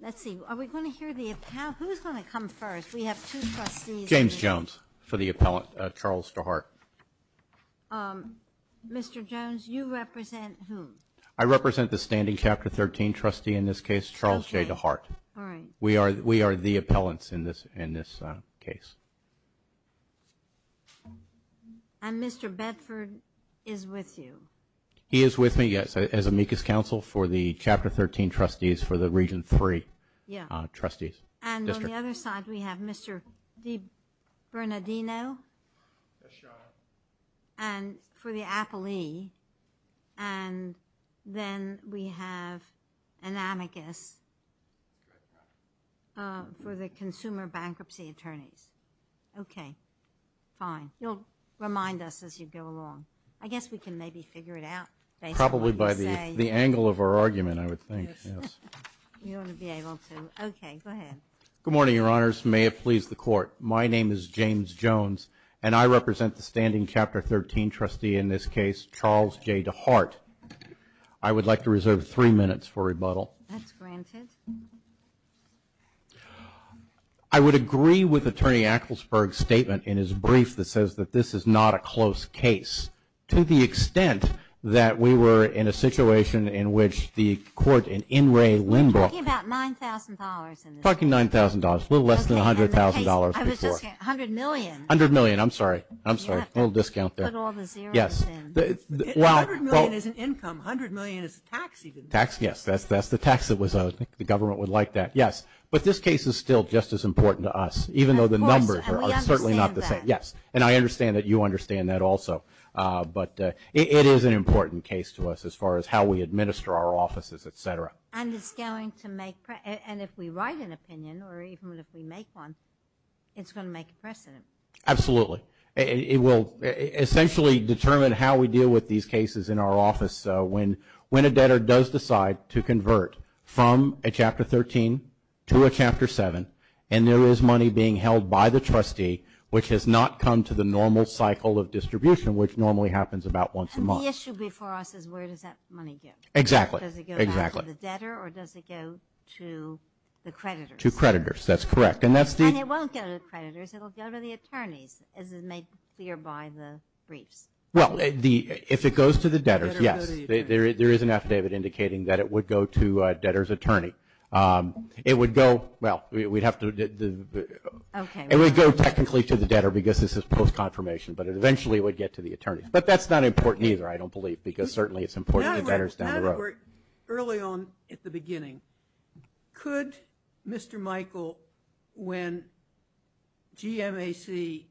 Let's see, are we going to hear the appellant? Who's going to come first? We have two trustees. James Jones for the appellant, Charles DeHart. Mr. Jones, you represent whom? I represent the standing Chapter 13 trustee in this case, Charles J. DeHart. Okay. All right. We are the appellants in this case. And Mr. Bedford is with you. He is with me, yes, as amicus counsel for the Chapter 13 trustees for the Region 3 trustees. And on the other side, we have Mr. DiBernardino. Yes, Your Honor. And for the appellee. And then we have an amicus for the consumer bankruptcy attorneys. Okay. Fine. You'll remind us as you go along. I guess we can maybe figure it out. Probably by the angle of our argument, I would think, yes. You ought to be able to. Okay. Go ahead. Good morning, Your Honors. May it please the Court. My name is James Jones, and I represent the standing Chapter 13 trustee in this case, Charles J. DeHart. I would like to reserve three minutes for rebuttal. That's granted. I would agree with Attorney Acklesberg's statement in his brief that says that this is not a close case, to the extent that we were in a situation in which the court in In re Limbrook. You're talking about $9,000 in this case. Talking $9,000, a little less than $100,000 before. Okay. And in this case, I was just going to say $100 million. $100 million. I'm sorry. I'm sorry. A little discount there. You have to put all the zeros in. Yes. $100 million isn't income. $100 million is tax even. Tax, yes. That's the tax that was owed. I think the government would like that. Yes. But this case is still just as important to us, even though the numbers are certainly not the same. Of course. And we understand that. Yes. And I understand that you understand that also. But it is an important case to us as far as how we administer our offices, et cetera. And it's going to make, and if we write an opinion or even if we make one, it's going to make a precedent. Absolutely. It will essentially determine how we deal with these cases in our office. So when a debtor does decide to convert from a Chapter 13 to a Chapter 7, and there is money being held by the trustee which has not come to the normal cycle of distribution, which normally happens about once a month. And the issue before us is where does that money go? Exactly. Does it go back to the debtor or does it go to the creditors? To creditors. That's correct. And that's the – And it won't go to the creditors. It will go to the attorneys, as is made clear by the briefs. Well, if it goes to the debtors, yes. There is an affidavit indicating that it would go to a debtor's attorney. It would go – well, we'd have to – it would go technically to the debtor because this is post-confirmation, but it eventually would get to the attorneys. But that's not important either, I don't believe, because certainly it's important to debtors down the road. Robert, early on at the beginning, could Mr. Michael, when GMAC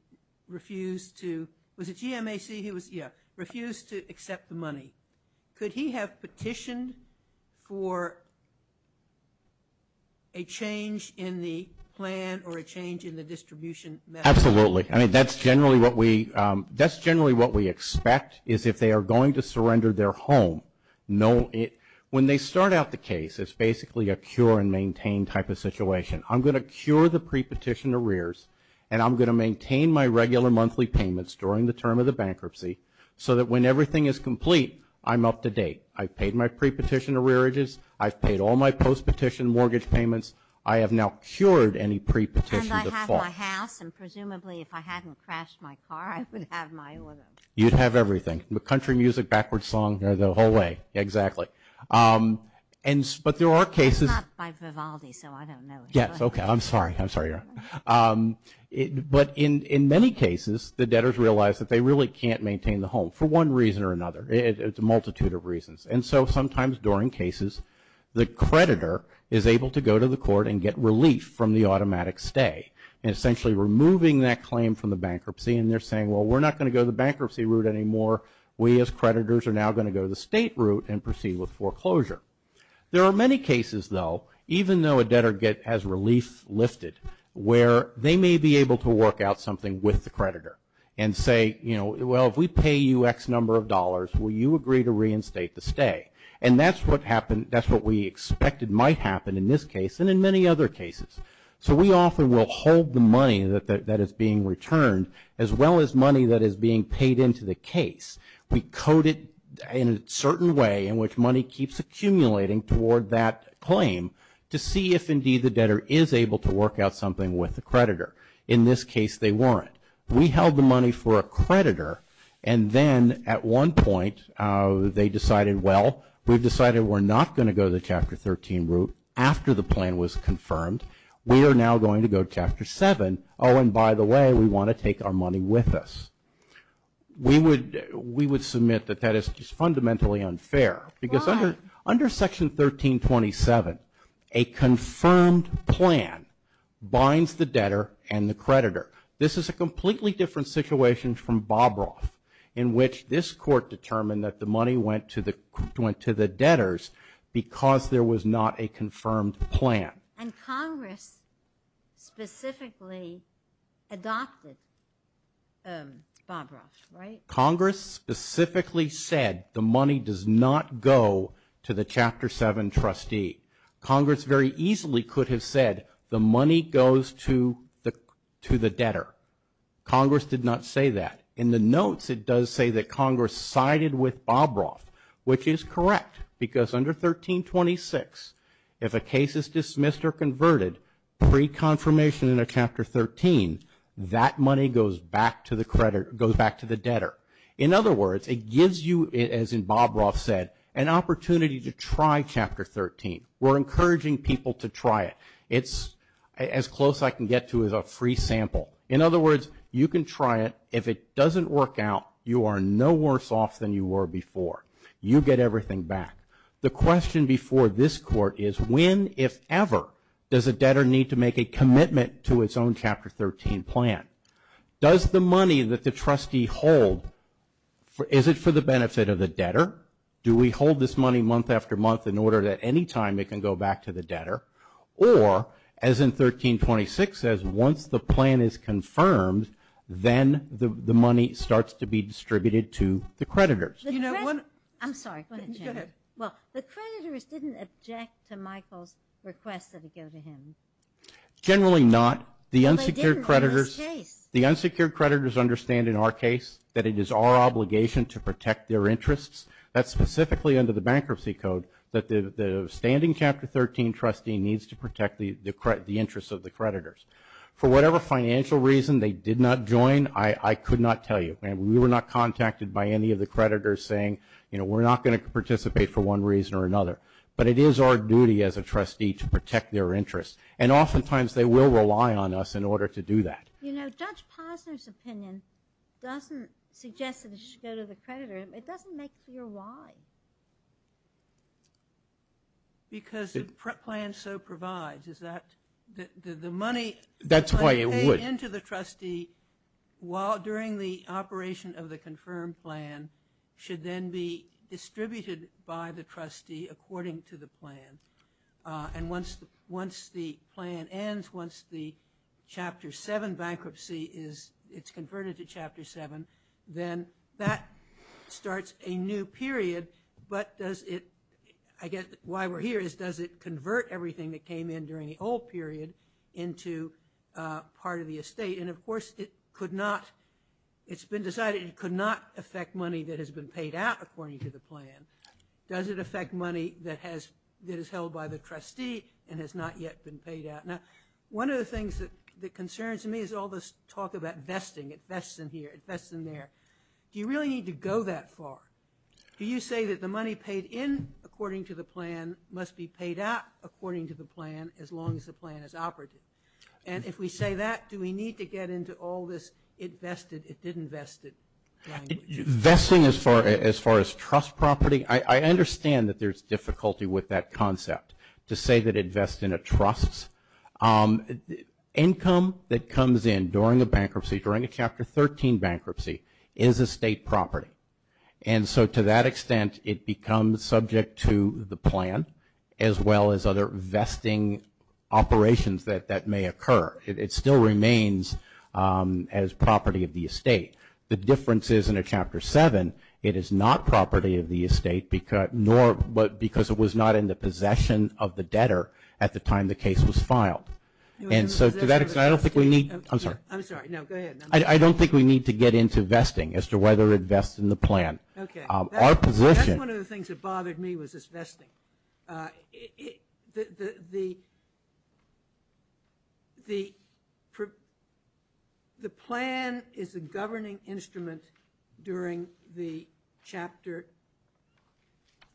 refused to – was it GMAC? Yeah, refused to accept the money. Could he have petitioned for a change in the plan or a change in the distribution method? Absolutely. I mean, that's generally what we – that's generally what we expect is if they are going to surrender their home, when they start out the case, it's basically a cure-and-maintain type of situation. I'm going to cure the pre-petition arrears, and I'm going to maintain my regular monthly payments during the term of the bankruptcy so that when everything is complete, I'm up to date. I've paid my pre-petition arrearages. I've paid all my post-petition mortgage payments. I have now cured any pre-petition defaults. If I hadn't crashed my car, I would have my order. You'd have everything, country music, backwards song, the whole way, exactly. But there are cases – It's not by Vivaldi, so I don't know. Yes, okay. I'm sorry. I'm sorry, Your Honor. But in many cases, the debtors realize that they really can't maintain the home for one reason or another. It's a multitude of reasons. And so sometimes during cases, the creditor is able to go to the court and get relief from the automatic stay, and essentially removing that claim from the bankruptcy. And they're saying, well, we're not going to go the bankruptcy route anymore. We as creditors are now going to go the state route and proceed with foreclosure. There are many cases, though, even though a debtor has relief lifted, where they may be able to work out something with the creditor and say, you know, well, if we pay you X number of dollars, will you agree to reinstate the stay? And that's what we expected might happen in this case and in many other cases. So we often will hold the money that is being returned as well as money that is being paid into the case. We code it in a certain way in which money keeps accumulating toward that claim to see if, indeed, the debtor is able to work out something with the creditor. In this case, they weren't. We held the money for a creditor, and then at one point they decided, well, we've decided we're not going to go the Chapter 13 route after the plan was confirmed. We are now going to go Chapter 7. Oh, and by the way, we want to take our money with us. We would submit that that is just fundamentally unfair. Why? Because under Section 1327, a confirmed plan binds the debtor and the creditor. This is a completely different situation from Bobroff in which this court determined that the money went to the debtors because there was not a confirmed plan. And Congress specifically adopted Bobroff, right? Congress specifically said the money does not go to the Chapter 7 trustee. Congress very easily could have said the money goes to the debtor. Congress did not say that. In the notes, it does say that Congress sided with Bobroff, which is correct because under 1326, if a case is dismissed or converted pre-confirmation in a Chapter 13, that money goes back to the debtor. In other words, it gives you, as in Bobroff said, an opportunity to try Chapter 13. We're encouraging people to try it. It's as close I can get to as a free sample. In other words, you can try it. If it doesn't work out, you are no worse off than you were before. You get everything back. The question before this court is when, if ever, does a debtor need to make a commitment to its own Chapter 13 plan? Does the money that the trustee hold, is it for the benefit of the debtor? Do we hold this money month after month in order that any time it can go back to the debtor? Or, as in 1326 says, once the plan is confirmed, then the money starts to be distributed to the creditors. I'm sorry. Go ahead. Well, the creditors didn't object to Michael's request that it go to him. Generally not. The unsecured creditors understand, in our case, that it is our obligation to protect their interests. That's specifically under the Bankruptcy Code, that the standing Chapter 13 trustee needs to protect the interests of the creditors. For whatever financial reason they did not join, I could not tell you. We were not contacted by any of the creditors saying, you know, we're not going to participate for one reason or another. But it is our duty as a trustee to protect their interests. And oftentimes they will rely on us in order to do that. You know, Judge Posner's opinion doesn't suggest that it should go to the creditor. It doesn't make clear why. Because the plan so provides. Is that the money? That's why it would. Pay into the trustee during the operation of the confirmed plan should then be distributed by the trustee according to the plan. And once the plan ends, once the Chapter 7 bankruptcy is, it's converted to Chapter 7, then that starts a new period. But does it, I guess why we're here is, does it convert everything that came in during the old period into part of the estate? And, of course, it could not, it's been decided it could not affect money that has been paid out according to the plan. Does it affect money that is held by the trustee and has not yet been paid out? Now, one of the things that concerns me is all this talk about vesting. It vests in here, it vests in there. Do you really need to go that far? Do you say that the money paid in according to the plan must be paid out according to the plan as long as the plan is operative? And if we say that, do we need to get into all this it vested, it didn't vested language? Vesting as far as trust property, I understand that there's difficulty with that concept to say that it vests in a trust. Income that comes in during a bankruptcy, during a Chapter 13 bankruptcy, is estate property. And so to that extent, it becomes subject to the plan, as well as other vesting operations that may occur. It still remains as property of the estate. The difference is in a Chapter 7, it is not property of the estate because it was not in the possession of the debtor at the time the case was filed. And so to that extent, I don't think we need to get into vesting as to whether it vests in the plan. That's one of the things that bothered me was this vesting. The plan is a governing instrument during the Chapter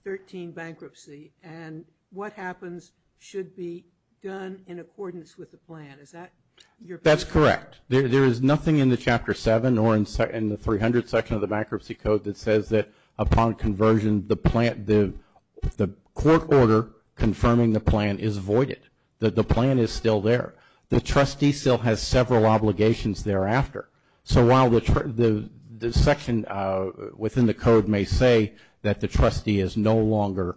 13 bankruptcy, and what happens should be done in accordance with the plan. That's correct. There is nothing in the Chapter 7 or in the 300 section of the bankruptcy code that says that upon conversion, the court order confirming the plan is voided, that the plan is still there. The trustee still has several obligations thereafter. So while the section within the code may say that the trustee is no longer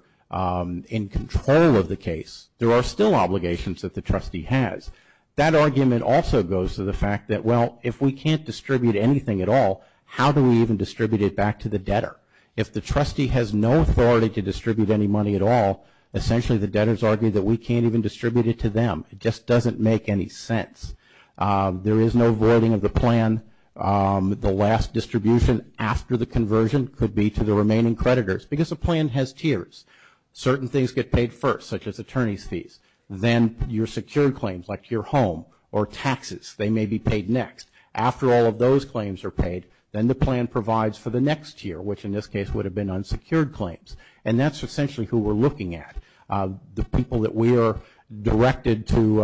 in control of the case, there are still obligations that the trustee has. That argument also goes to the fact that, well, if we can't distribute anything at all, how do we even distribute it back to the debtor? If the trustee has no authority to distribute any money at all, essentially the debtors argue that we can't even distribute it to them. It just doesn't make any sense. There is no voiding of the plan. The last distribution after the conversion could be to the remaining creditors because a plan has tiers. Certain things get paid first, such as attorney's fees. Then your secured claims, like your home or taxes, they may be paid next. After all of those claims are paid, then the plan provides for the next tier, which in this case would have been unsecured claims. And that's essentially who we're looking at, the people that we are directed to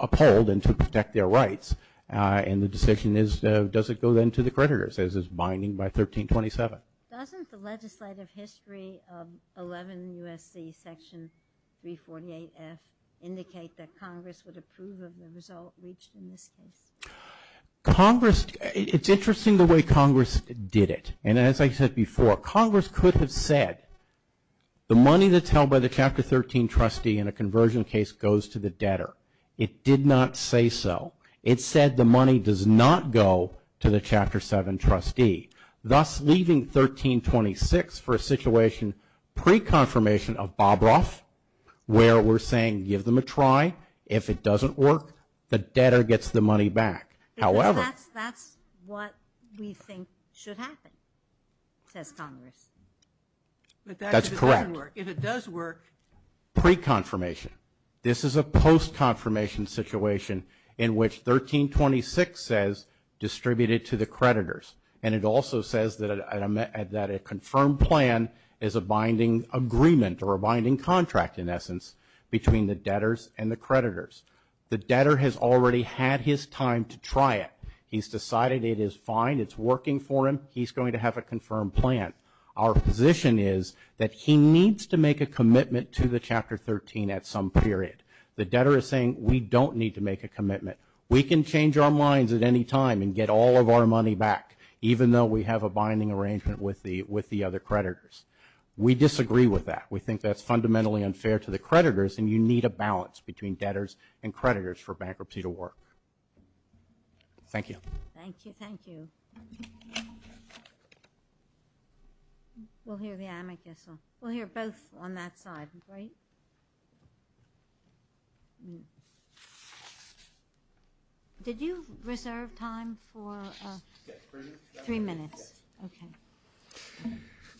uphold and to protect their rights. And the decision is, does it go then to the creditors, as is binding by 1327. Doesn't the legislative history of 11 U.S.C. Section 348F indicate that Congress would approve of the result reached in this case? Congress, it's interesting the way Congress did it. And as I said before, Congress could have said, the money that's held by the Chapter 13 trustee in a conversion case goes to the debtor. It did not say so. It said the money does not go to the Chapter 7 trustee, thus leaving 1326 for a situation pre-confirmation of Bobroff, where we're saying, give them a try. If it doesn't work, the debtor gets the money back. However. That's what we think should happen, says Congress. That's correct. If it does work. Pre-confirmation. This is a post-confirmation situation in which 1326 says, distribute it to the creditors. And it also says that a confirmed plan is a binding agreement or a binding contract, in essence, between the debtors and the creditors. The debtor has already had his time to try it. He's decided it is fine, it's working for him, he's going to have a confirmed plan. Our position is that he needs to make a commitment to the Chapter 13 at some period. The debtor is saying, we don't need to make a commitment. We can change our minds at any time and get all of our money back, even though we have a binding arrangement with the other creditors. We disagree with that. We think that's fundamentally unfair to the creditors, and you need a balance between debtors and creditors for bankruptcy to work. Thank you. Thank you. Thank you. We'll hear the amicus. We'll hear both on that side, right? Did you reserve time for three minutes? Okay.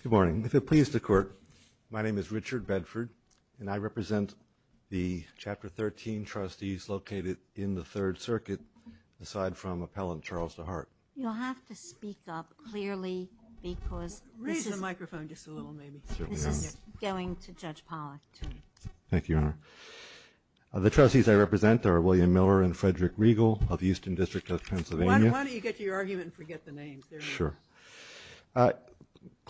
Good morning. If it pleases the Court, my name is Richard Bedford, and I represent the Chapter 13 trustees located in the Third Circuit, aside from Appellant Charles DeHart. You'll have to speak up clearly because this is going to Judge Pollack. Thank you, Your Honor. The trustees I represent are William Miller and Frederick Riegel of the Houston District of Pennsylvania. Why don't you get to your argument and forget the names? Sure. You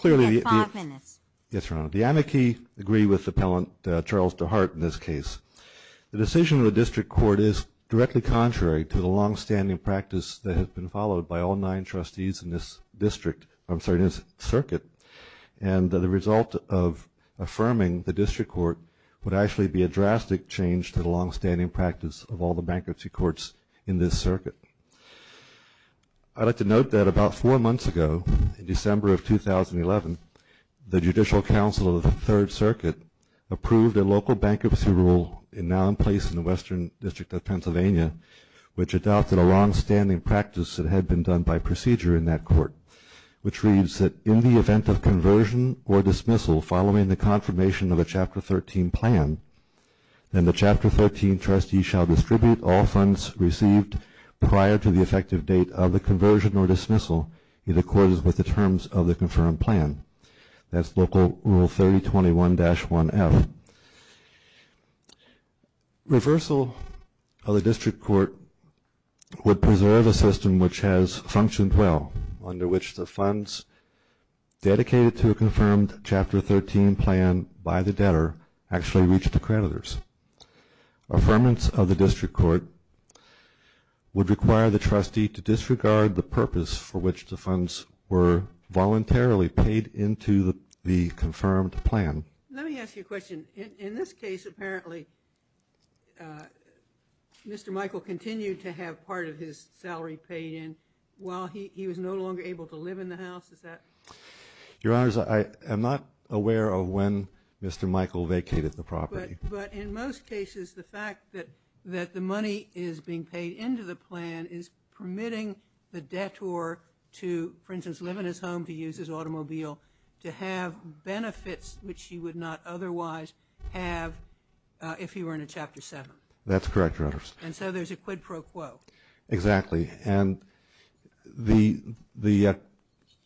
have five minutes. Yes, Your Honor. The amici agree with Appellant Charles DeHart in this case. The decision of the District Court is directly contrary to the longstanding practice that has been followed by all nine trustees in this circuit, and the result of affirming the District Court would actually be a drastic change to the longstanding practice of all the bankruptcy courts in this circuit. I'd like to note that about four months ago, in December of 2011, the Judicial Council of the Third Circuit approved a local bankruptcy rule now in place in the Western District of Pennsylvania, which adopted a longstanding practice that had been done by procedure in that court, which reads that in the event of conversion or dismissal following the confirmation of a Chapter 13 plan, then the Chapter 13 trustee shall distribute all funds received prior to the effective date of the conversion or dismissal in accordance with the terms of the confirmed plan. That's Local Rule 3021-1F. Reversal of the District Court would preserve a system which has functioned well, under which the funds dedicated to a confirmed Chapter 13 plan by the debtor actually reach the creditors. Affirmance of the District Court would require the trustee to disregard the purpose for which the funds were voluntarily paid into the confirmed plan. Let me ask you a question. In this case, apparently, Mr. Michael continued to have part of his salary paid in while he was no longer able to live in the house. Is that correct? Your Honors, I am not aware of when Mr. Michael vacated the property. But in most cases, the fact that the money is being paid into the plan is permitting the debtor to, for instance, live in his home, to use his automobile, to have benefits which he would not otherwise have if he were in a Chapter 7. That's correct, Your Honors. And so there's a quid pro quo. And the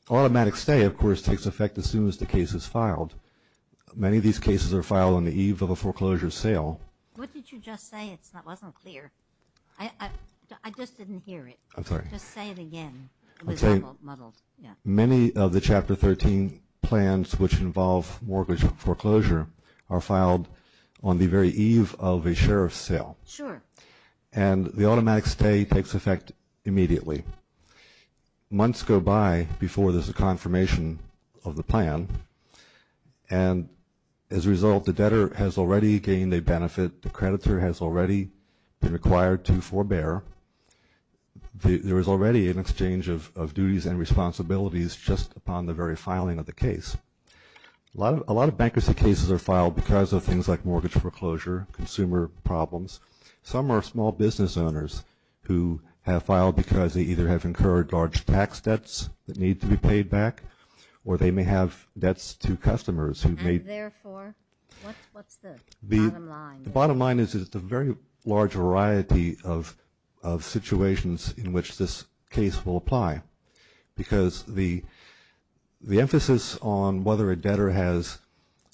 automatic stay, of course, takes effect as soon as the case is filed. Many of these cases are filed on the eve of a foreclosure sale. What did you just say? It wasn't clear. I just didn't hear it. I'm sorry. Just say it again. It was muddled. Many of the Chapter 13 plans which involve mortgage foreclosure are filed on the very eve of a sheriff's sale. Sure. And the automatic stay takes effect immediately. Months go by before there's a confirmation of the plan. And as a result, the debtor has already gained a benefit. The creditor has already been required to forbear. There is already an exchange of duties and responsibilities just upon the very filing of the case. A lot of bankruptcy cases are filed because of things like mortgage foreclosure, consumer problems. Some are small business owners who have filed because they either have incurred large tax debts that need to be paid back or they may have debts to customers. And, therefore, what's the bottom line? The bottom line is it's a very large variety of situations in which this case will apply because the emphasis on whether a debtor has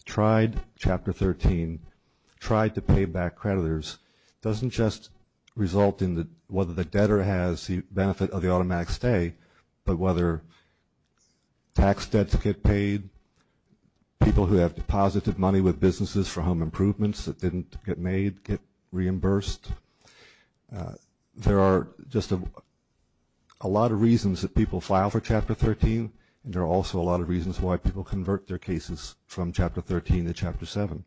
tried Chapter 13, tried to pay back creditors, doesn't just result in whether the debtor has the benefit of the automatic stay, but whether tax debts get paid, people who have deposited money with businesses for home improvements that didn't get made get reimbursed. There are just a lot of reasons that people file for Chapter 13, and there are also a lot of reasons why people convert their cases from Chapter 13 to Chapter 7.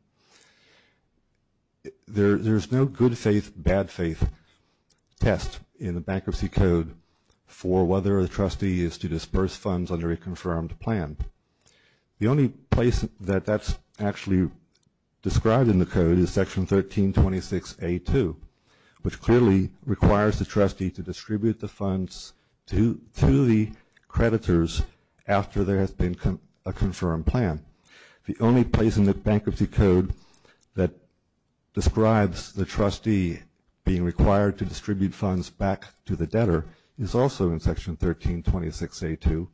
There's no good faith, bad faith test in the Bankruptcy Code for whether a trustee is to disburse funds under a confirmed plan. The only place that that's actually described in the code is Section 1326A2, which clearly requires the trustee to distribute the funds to the creditors after there has been a confirmed plan. The only place in the Bankruptcy Code that describes the trustee being required to distribute funds back to the debtor is also in Section 1326A2,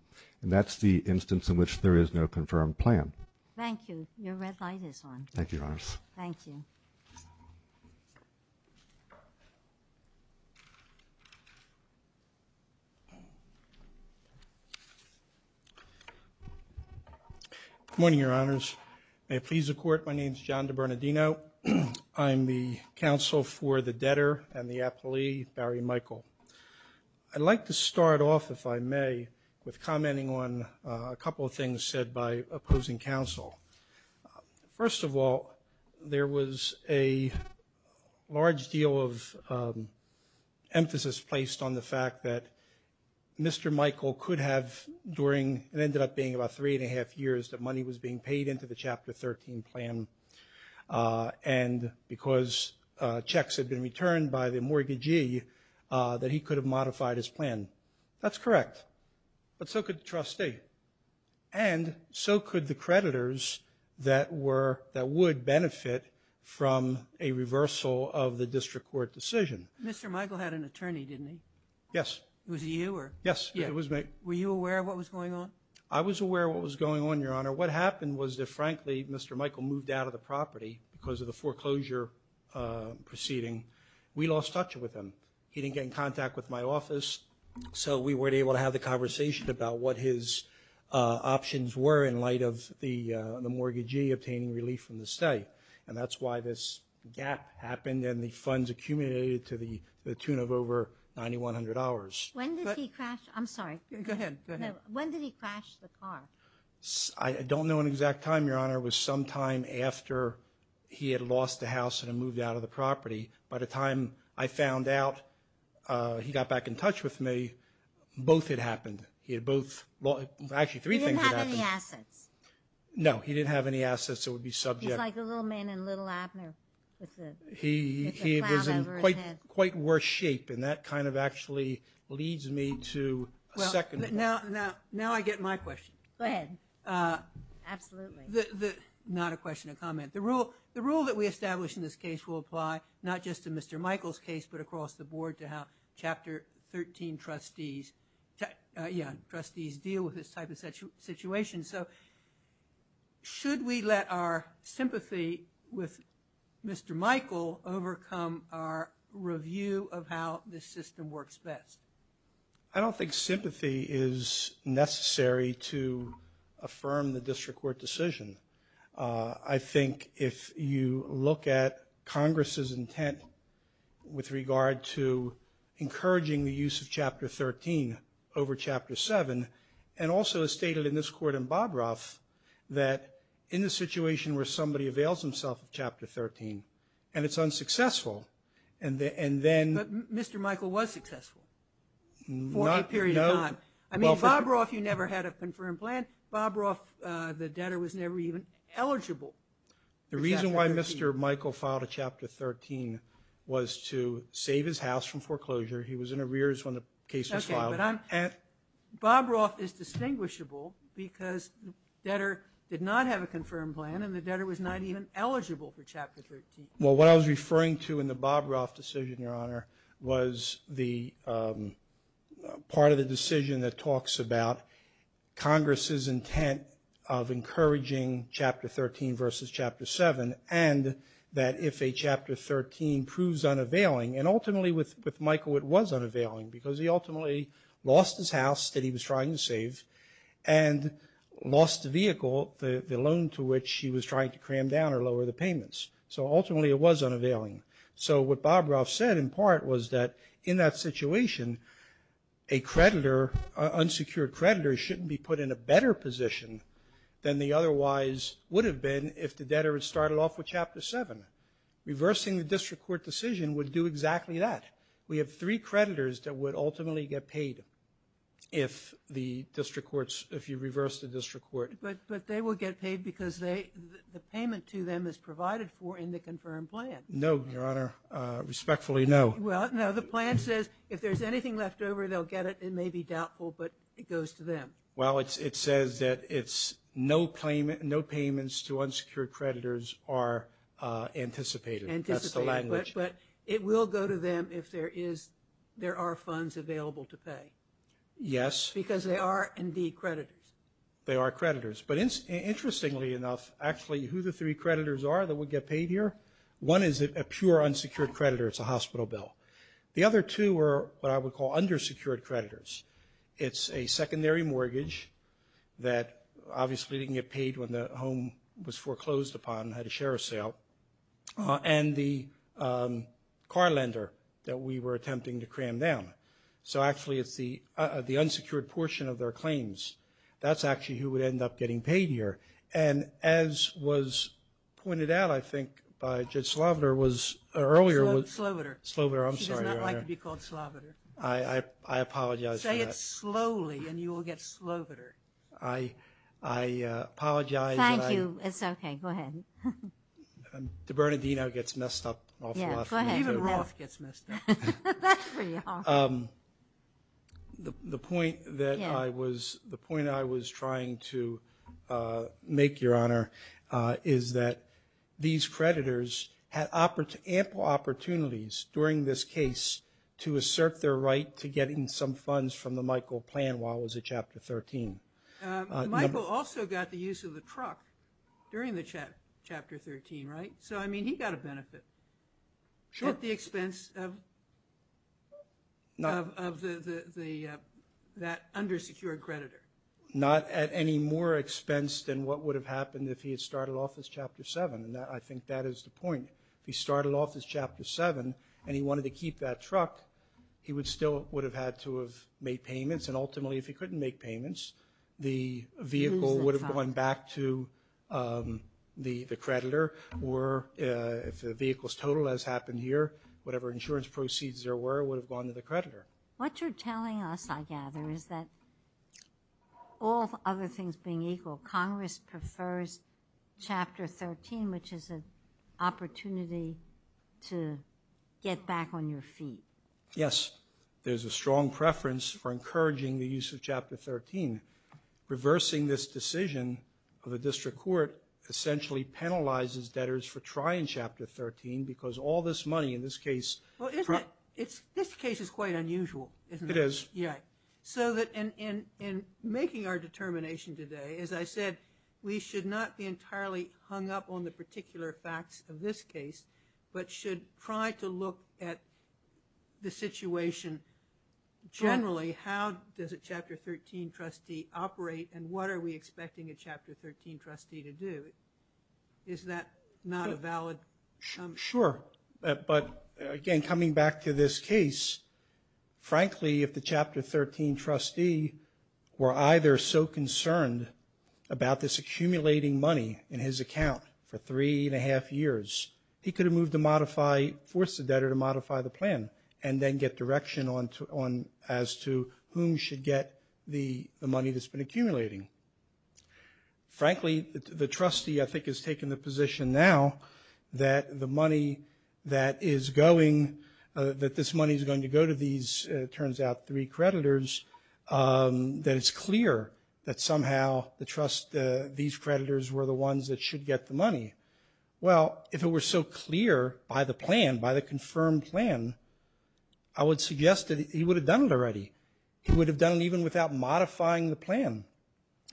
and that's the instance in which there is no confirmed plan. Thank you. Your red light is on. Thank you, Your Honors. Thank you. Good morning, Your Honors. May it please the Court, my name is John DeBernardino. I'm the counsel for the debtor and the appellee, Barry Michael. I'd like to start off, if I may, with commenting on a couple of things said by opposing counsel. First of all, there was a large deal of emphasis placed on the fact that Mr. Michael could have, during what ended up being about three and a half years, that money was being paid into the Chapter 13 plan, and because checks had been returned by the mortgagee, that he could have modified his plan. That's correct, but so could the trustee, and so could the creditors that would benefit from a reversal of the district court decision. Mr. Michael had an attorney, didn't he? Yes. Was it you? Yes, it was me. I was aware of what was going on, Your Honor. What happened was that, frankly, Mr. Michael moved out of the property because of the foreclosure proceeding. We lost touch with him. He didn't get in contact with my office, so we weren't able to have the conversation about what his options were in light of the mortgagee obtaining relief from the state, and that's why this gap happened, and the funds accumulated to the tune of over $9,100. When did he crash? I'm sorry. Go ahead. When did he crash the car? I don't know an exact time, Your Honor. It was sometime after he had lost the house and had moved out of the property. By the time I found out he got back in touch with me, both had happened. Actually, three things had happened. He didn't have any assets. No, he didn't have any assets that would be subject. He's like the little man in Little Abner with the cloud over his head. He was in quite worse shape, and that kind of actually leads me to a second point. Now I get my question. Go ahead. Absolutely. Not a question, a comment. The rule that we established in this case will apply not just to Mr. Michael's case, but across the board to how Chapter 13 trustees deal with this type of situation. So should we let our sympathy with Mr. Michael overcome our review of how this system works best? I don't think sympathy is necessary to affirm the district court decision. I think if you look at Congress's intent with regard to encouraging the use of Chapter 13 over Chapter 7, and also as stated in this court in Bob Roth, that in the situation where somebody avails himself of Chapter 13, and it's unsuccessful, and then — Mr. Michael was successful for a period of time. I mean, Bob Roth, you never had a confirmed plan. Bob Roth, the debtor, was never even eligible for Chapter 13. The reason why Mr. Michael filed a Chapter 13 was to save his house from foreclosure. He was in arrears when the case was filed. Okay, but Bob Roth is distinguishable because the debtor did not have a confirmed plan, and the debtor was not even eligible for Chapter 13. Well, what I was referring to in the Bob Roth decision, Your Honor, was the part of the decision that talks about Congress's intent of encouraging Chapter 13 versus Chapter 7, and that if a Chapter 13 proves unavailing, and ultimately with Michael it was unavailing because he ultimately lost his house that he was trying to save, and lost the vehicle, the loan to which he was trying to cram down or lower the payments. So ultimately it was unavailing. So what Bob Roth said in part was that in that situation, a creditor, unsecured creditor, shouldn't be put in a better position than they otherwise would have been if the debtor had started off with Chapter 7. Reversing the district court decision would do exactly that. We have three creditors that would ultimately get paid if the district courts, if you reverse the district court. But they will get paid because the payment to them is provided for in the confirmed plan. No, Your Honor. Respectfully, no. Well, no. The plan says if there's anything left over, they'll get it. It may be doubtful, but it goes to them. Well, it says that no payments to unsecured creditors are anticipated. Anticipated. But it will go to them if there are funds available to pay. Yes. Because they are indeed creditors. They are creditors. But interestingly enough, actually, who the three creditors are that would get paid here? One is a pure unsecured creditor. It's a hospital bill. The other two are what I would call undersecured creditors. It's a secondary mortgage that obviously didn't get paid when the home was foreclosed upon and had a share of sale. And the car lender that we were attempting to cram down. So actually it's the unsecured portion of their claims. That's actually who would end up getting paid here. And as was pointed out, I think, by Judge Sloviter earlier. Sloviter. Sloviter, I'm sorry, Your Honor. She does not like to be called Sloviter. I apologize for that. Say it slowly and you will get Sloviter. I apologize. Thank you. It's okay. Go ahead. DeBernardino gets messed up. Yeah, go ahead. Even Roth gets messed up. That's pretty awful. The point that I was trying to make, Your Honor, is that these creditors had ample opportunities during this case to assert their right to getting some funds from the Michael plan while I was at Chapter 13. Michael also got the use of the truck during the Chapter 13, right? So, I mean, he got a benefit. Sure. At the expense of that undersecured creditor. Not at any more expense than what would have happened if he had started off as Chapter 7, and I think that is the point. If he started off as Chapter 7 and he wanted to keep that truck, he still would have had to have made payments, and ultimately if he couldn't make payments, the vehicle would have gone back to the creditor, or if the vehicle's total has happened here, whatever insurance proceeds there were would have gone to the creditor. What you're telling us, I gather, is that all other things being equal, Congress prefers Chapter 13, which is an opportunity to get back on your feet. Yes. There's a strong preference for encouraging the use of Chapter 13. Reversing this decision of the district court essentially penalizes debtors for trying Chapter 13 because all this money, in this case- Well, isn't it- This case is quite unusual, isn't it? It is. Yeah. So, in making our determination today, as I said, we should not be entirely hung up on the particular facts of this case, but should try to look at the situation generally. How does a Chapter 13 trustee operate, and what are we expecting a Chapter 13 trustee to do? Is that not a valid- Sure. But, again, coming back to this case, frankly, if the Chapter 13 trustee were either so concerned about this accumulating money in his account for three and a half years, he could have moved to modify- force the debtor to modify the plan and then get direction as to whom should get the money that's been accumulating. Frankly, the trustee, I think, has taken the position now that the money that is going- that this money is going to go to these, it turns out, three creditors, that it's clear that somehow the trust- Well, if it were so clear by the plan, by the confirmed plan, I would suggest that he would have done it already. He would have done it even without modifying the plan.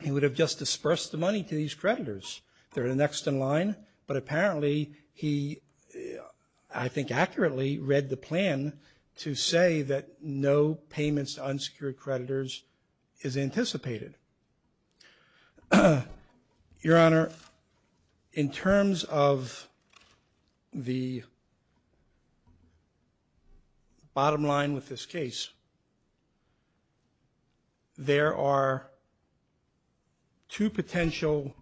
He would have just disbursed the money to these creditors. They're the next in line, but apparently he, I think accurately, read the plan to say that no payments to unsecured creditors is anticipated. Your Honor, in terms of the bottom line with this case, there are two potential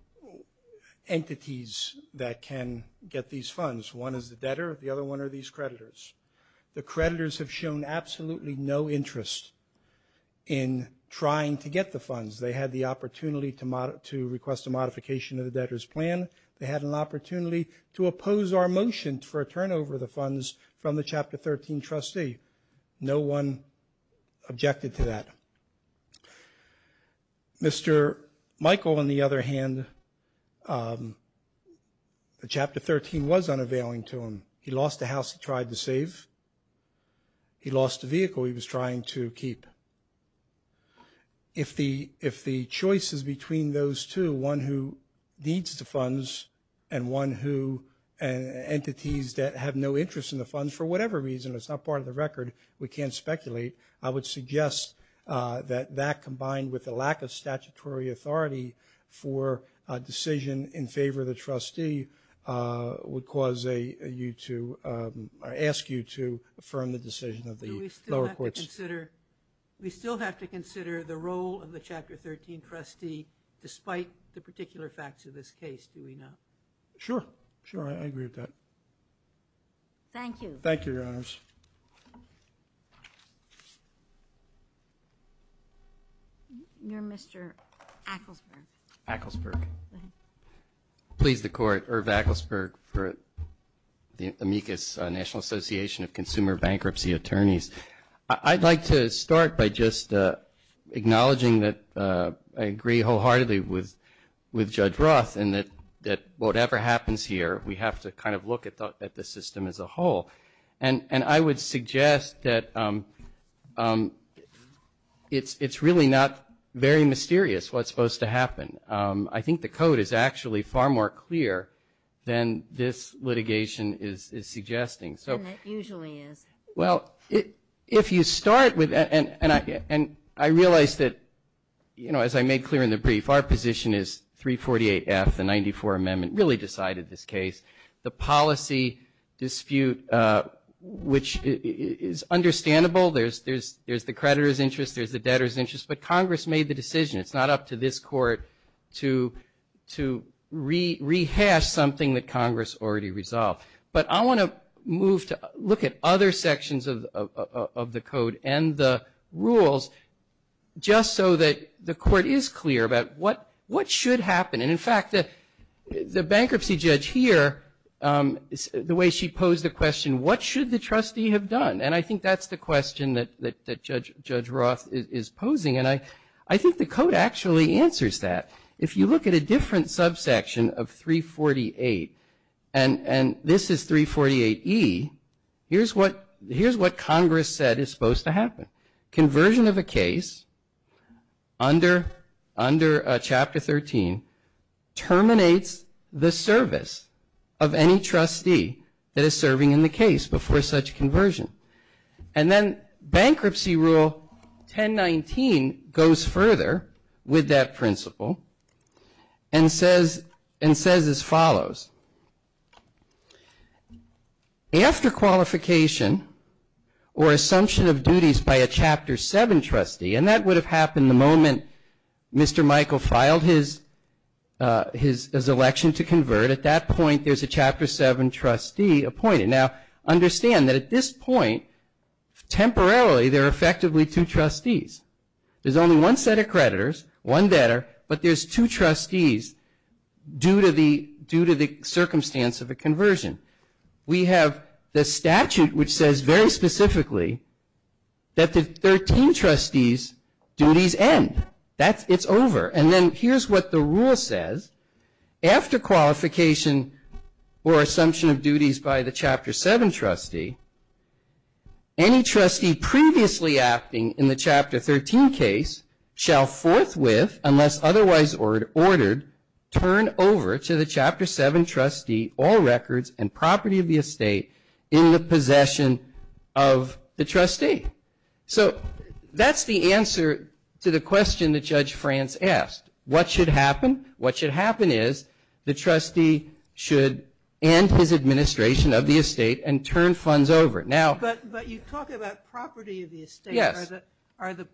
entities that can get these funds. One is the debtor, the other one are these creditors. The creditors have shown absolutely no interest in trying to get the funds. They had the opportunity to request a modification of the debtor's plan. They had an opportunity to oppose our motion for a turnover of the funds from the Chapter 13 trustee. No one objected to that. Mr. Michael, on the other hand, the Chapter 13 was unavailing to him. He lost a house he tried to save. He lost a vehicle he was trying to keep. If the choice is between those two, one who needs the funds and one who entities that have no interest in the funds, for whatever reason it's not part of the record, we can't speculate, I would suggest that that combined with the lack of statutory authority for a decision in favor of the trustee would cause you to We still have to consider the role of the Chapter 13 trustee despite the particular facts of this case, do we not? Sure. Sure, I agree with that. Thank you. Thank you, Your Honors. Mr. Acklesberg. Acklesberg. Please the Court, Irv Acklesberg, for the Amicus National Association of Consumer Bankruptcy Attorneys. I'd like to start by just acknowledging that I agree wholeheartedly with Judge Roth in that whatever happens here, we have to kind of look at the system as a whole. And I would suggest that it's really not very mysterious what's supposed to happen. I think the code is actually far more clear than this litigation is suggesting. And it usually is. Well, if you start with, and I realize that, you know, as I made clear in the brief, our position is 348F, the 94 Amendment, really decided this case. The policy dispute, which is understandable, there's the creditor's interest, there's the debtor's interest, but Congress made the decision. It's not up to this Court to rehash something that Congress already resolved. But I want to move to look at other sections of the code and the rules, just so that the Court is clear about what should happen. And, in fact, the bankruptcy judge here, the way she posed the question, what should the trustee have done? And I think that's the question that Judge Roth is posing. And I think the code actually answers that. If you look at a different subsection of 348, and this is 348E, here's what Congress said is supposed to happen. Conversion of a case under Chapter 13 terminates the service of any trustee that is serving in the case before such conversion. And then Bankruptcy Rule 1019 goes further with that principle and says as follows. After qualification or assumption of duties by a Chapter 7 trustee, and that would have happened the moment Mr. Michael filed his election to convert, at that point there's a Chapter 7 trustee appointed. Now, understand that at this point, temporarily, there are effectively two trustees. There's only one set of creditors, one debtor, but there's two trustees due to the circumstance of a conversion. We have the statute which says very specifically that the 13 trustees' duties end. It's over. And then here's what the rule says. After qualification or assumption of duties by the Chapter 7 trustee, any trustee previously acting in the Chapter 13 case shall forthwith, unless otherwise ordered, turn over to the Chapter 7 trustee all records and property of the estate in the possession of the trustee. So that's the answer to the question that Judge France asked. What should happen? What should happen is the trustee should end his administration of the estate and turn funds over. But you talk about property of the estate. Yes. Are the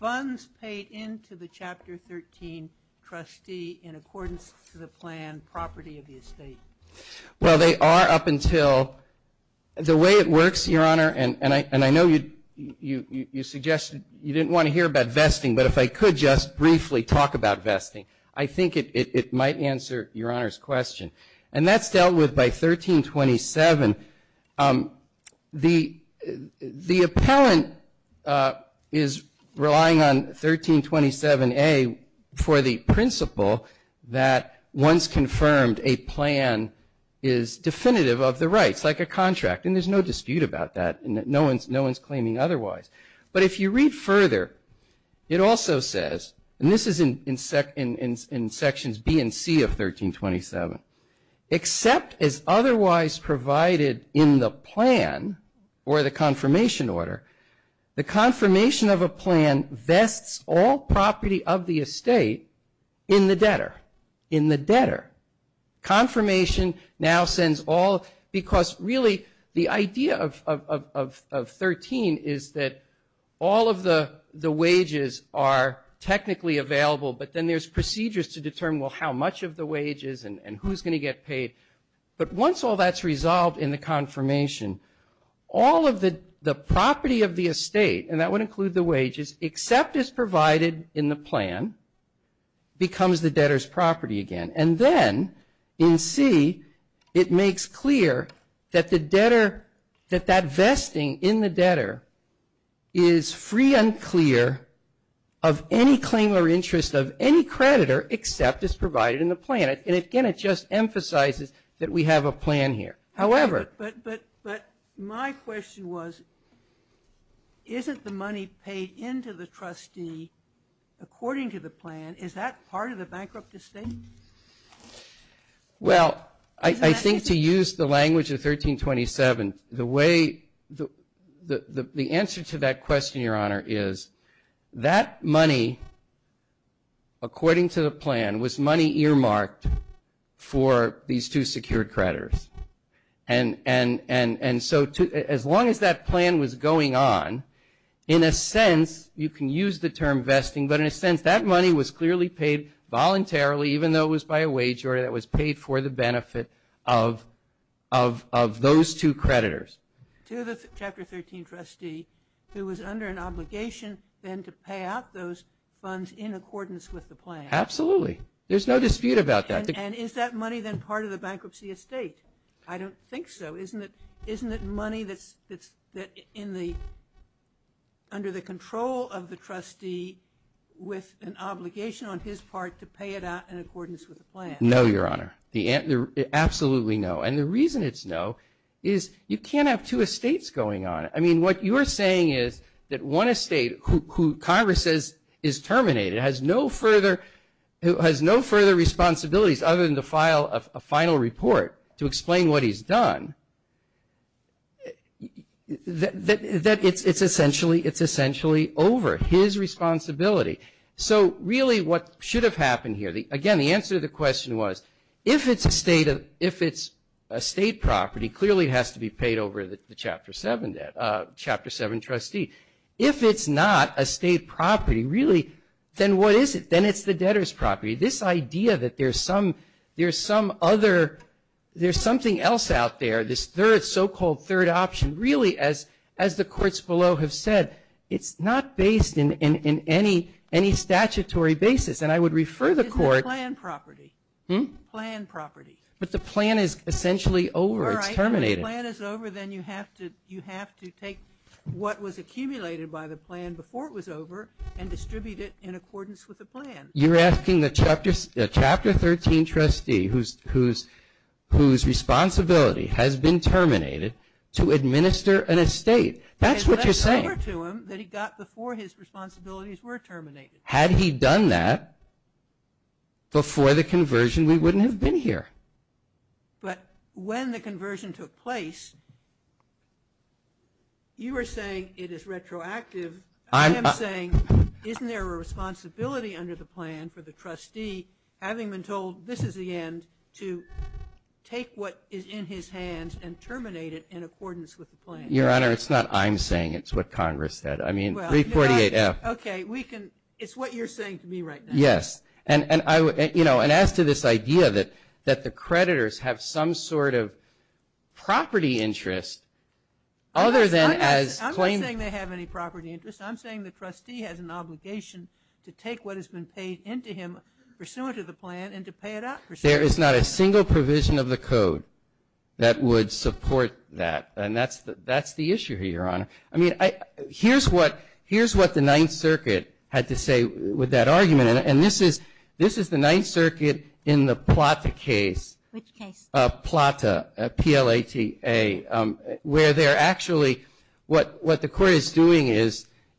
funds paid into the Chapter 13 trustee in accordance to the plan property of the estate? Well, they are up until the way it works, Your Honor, and I know you suggested you didn't want to hear about vesting, but if I could just briefly talk about vesting. I think it might answer Your Honor's question. And that's dealt with by 1327. The appellant is relying on 1327A for the principle that once confirmed, a plan is definitive of the rights, like a contract. And there's no dispute about that. No one's claiming otherwise. But if you read further, it also says, and this is in Sections B and C of 1327, except as otherwise provided in the plan or the confirmation order, the confirmation of a plan vests all property of the estate in the debtor, in the debtor. Confirmation now sends all, because really the idea of 13 is that all of the wages are technically available, but then there's procedures to determine, well, how much of the wages and who's going to get paid. But once all that's resolved in the confirmation, all of the property of the estate, and that would include the wages, except as provided in the plan, becomes the debtor's property again. And then in C, it makes clear that the debtor, that that vesting in the debtor is free and clear of any claim or interest of any creditor, except as provided in the plan. And, again, it just emphasizes that we have a plan here. However. But my question was, isn't the money paid into the trustee according to the plan? Is that part of the bankrupt estate? Well, I think to use the language of 1327, the way, the answer to that question, Your Honor, is that money, according to the plan, was money earmarked for these two secured creditors. And so as long as that plan was going on, in a sense, you can use the term vesting, but in a sense that money was clearly paid voluntarily, even though it was by a wager that was paid for the benefit of those two creditors. To the Chapter 13 trustee who was under an obligation then to pay out those funds in accordance with the plan. Absolutely. There's no dispute about that. And is that money then part of the bankruptcy estate? I don't think so. Isn't it money that's under the control of the trustee with an obligation on his part to pay it out in accordance with the plan? No, Your Honor. Absolutely no. And the reason it's no is you can't have two estates going on. I mean, what you're saying is that one estate who Congress says is terminated, has no further responsibilities other than to file a final report to explain what he's done, that it's essentially over his responsibility. So really what should have happened here, again, the answer to the question was, if it's a state property, clearly it has to be paid over the Chapter 7 debt, Chapter 7 trustee. If it's not a state property, really, then what is it? Then it's the debtor's property. This idea that there's some other, there's something else out there, this third, so-called third option, really, as the courts below have said, it's not based in any statutory basis. And I would refer the court to the plan property. But the plan is essentially over. It's terminated. If the plan is over, then you have to take what was accumulated by the plan before it was over and distribute it in accordance with the plan. You're asking a Chapter 13 trustee whose responsibility has been terminated to administer an estate. That's what you're saying. It's over to him that he got before his responsibilities were terminated. Had he done that before the conversion, we wouldn't have been here. But when the conversion took place, you were saying it is retroactive. I am saying isn't there a responsibility under the plan for the trustee, having been told this is the end, to take what is in his hands and terminate it in accordance with the plan? Your Honor, it's not I'm saying. It's what Congress said. I mean, 348F. Okay. It's what you're saying to me right now. Yes. And, you know, and as to this idea that the creditors have some sort of property interest other than as plain. I'm not saying they have any property interest. I'm saying the trustee has an obligation to take what has been paid into him pursuant to the plan and to pay it out pursuant to the plan. There is not a single provision of the code that would support that. And that's the issue here, Your Honor. I mean, here's what the Ninth Circuit had to say with that argument. And this is the Ninth Circuit in the Plata case. Which case? Plata, P-L-A-T-A, where they're actually what the court is doing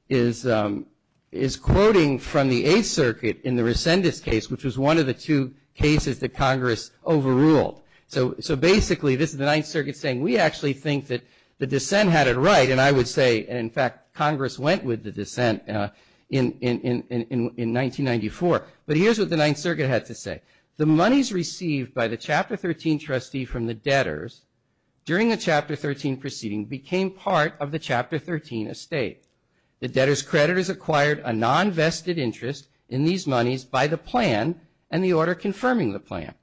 is quoting from the Eighth Circuit in the Resendis case, which was one of the two cases that Congress overruled. So basically this is the Ninth Circuit saying we actually think that the dissent had it right. And I would say, in fact, Congress went with the dissent in 1994. But here's what the Ninth Circuit had to say. The monies received by the Chapter 13 trustee from the debtors during the Chapter 13 proceeding became part of the Chapter 13 estate. The debtors' creditors acquired a non-vested interest in these monies by the plan and the order confirming the plan.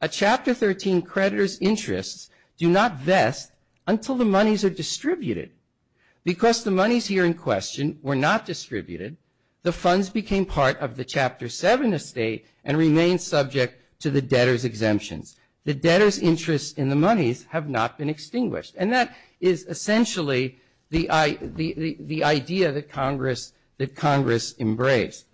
A Chapter 13 creditor's interests do not vest until the monies are distributed. Because the monies here in question were not distributed, the funds became part of the Chapter 7 estate and remained subject to the debtors' exemptions. The debtors' interests in the monies have not been extinguished. And that is essentially the idea that Congress embraced.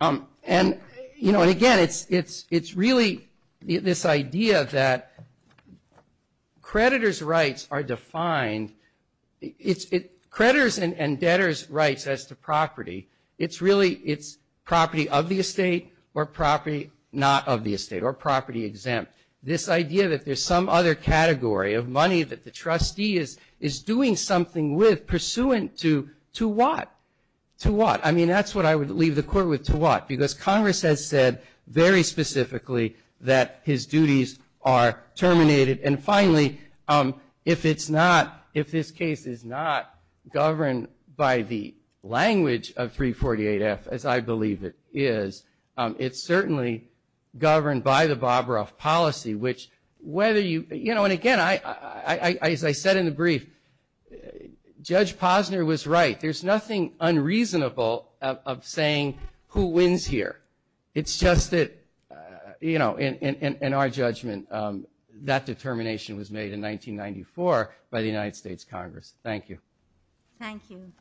And, you know, again, it's really this idea that creditors' rights are defined. It's creditors' and debtors' rights as to property. It's really it's property of the estate or property not of the estate or property exempt. This idea that there's some other category of money that the trustee is doing something with pursuant to what? To what? I mean, that's what I would leave the court with, to what? Because Congress has said very specifically that his duties are terminated. And finally, if it's not, if this case is not governed by the language of 348F, as I believe it is, it's certainly governed by the Bobroff policy, which whether you, you know, and again, as I said in the brief, Judge Posner was right. There's nothing unreasonable of saying who wins here. It's just that, you know, in our judgment, that determination was made in 1994 by the United States Congress. Thank you. Thank you.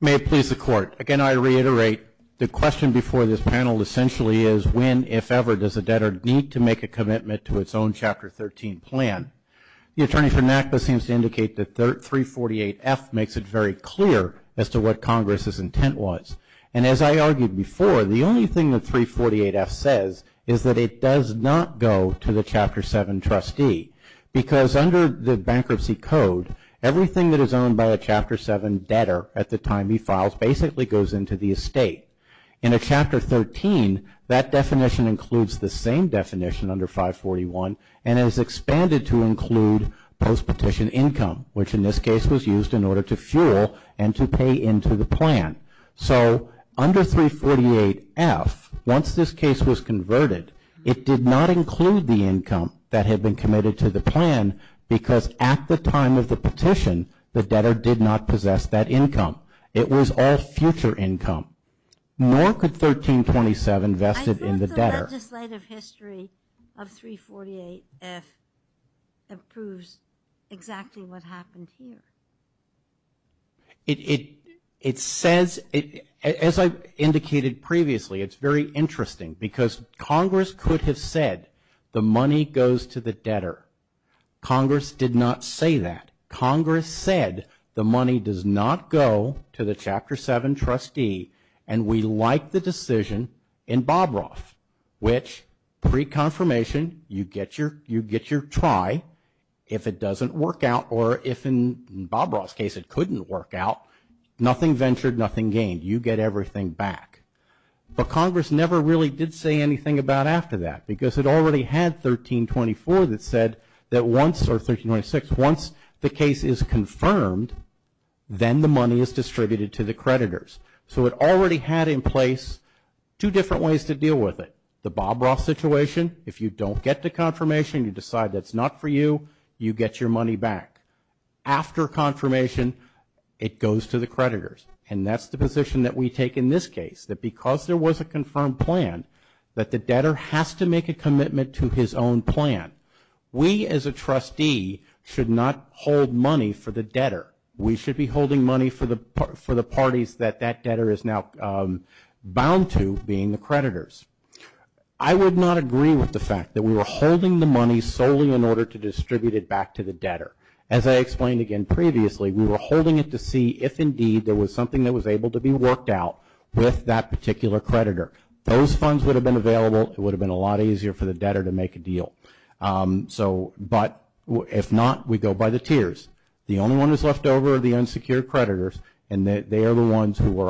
May it please the Court. Again, I reiterate, the question before this panel essentially is when, if ever, does a debtor need to make a commitment to its own Chapter 13 plan? The attorney for NACDA seems to indicate that 348F makes it very clear as to what Congress's intent was. And as I argued before, the only thing that 348F says is that it does not go to the Chapter 7 trustee. Because under the bankruptcy code, everything that is owned by a Chapter 7 debtor at the time he files basically goes into the estate. In a Chapter 13, that definition includes the same definition under 541, and is expanded to include post-petition income, which in this case was used in order to fuel and to pay into the plan. So under 348F, once this case was converted, it did not include the income that had been committed to the plan, because at the time of the petition, the debtor did not possess that income. It was all future income. Nor could 1327 vested in the debtor. I thought the legislative history of 348F proves exactly what happened here. It says, as I indicated previously, it's very interesting, because Congress could have said the money goes to the debtor. Congress did not say that. Congress said the money does not go to the Chapter 7 trustee, and we like the decision in Bobroff, which pre-confirmation, you get your try. If it doesn't work out, or if in Bobroff's case it couldn't work out, nothing ventured, nothing gained. You get everything back. But Congress never really did say anything about after that, because it already had 1324 that said that once, or 1326, once the case is confirmed, then the money is distributed to the creditors. So it already had in place two different ways to deal with it. The Bobroff situation, if you don't get the confirmation, you decide that's not for you, you get your money back. After confirmation, it goes to the creditors. And that's the position that we take in this case, that because there was a confirmed plan, that the debtor has to make a commitment to his own plan. We, as a trustee, should not hold money for the debtor. We should be holding money for the parties that that debtor is now bound to being the creditors. I would not agree with the fact that we were holding the money solely in order to distribute it back to the debtor. As I explained again previously, we were holding it to see if, indeed, there was something that was able to be worked out with that particular creditor. Those funds would have been available. It would have been a lot easier for the debtor to make a deal. But if not, we go by the tiers. The only one that's left over are the unsecured creditors, and they are the ones who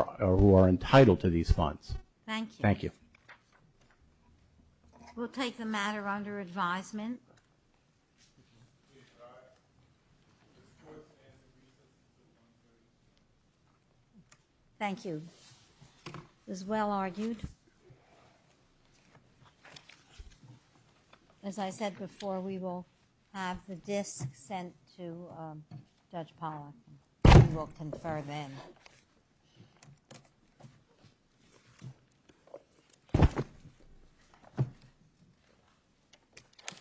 are entitled to these funds. Thank you. Thank you. We'll take the matter under advisement. Thank you. It was well argued. As I said before, we will have the disk sent to Judge Pollack. We will confer then.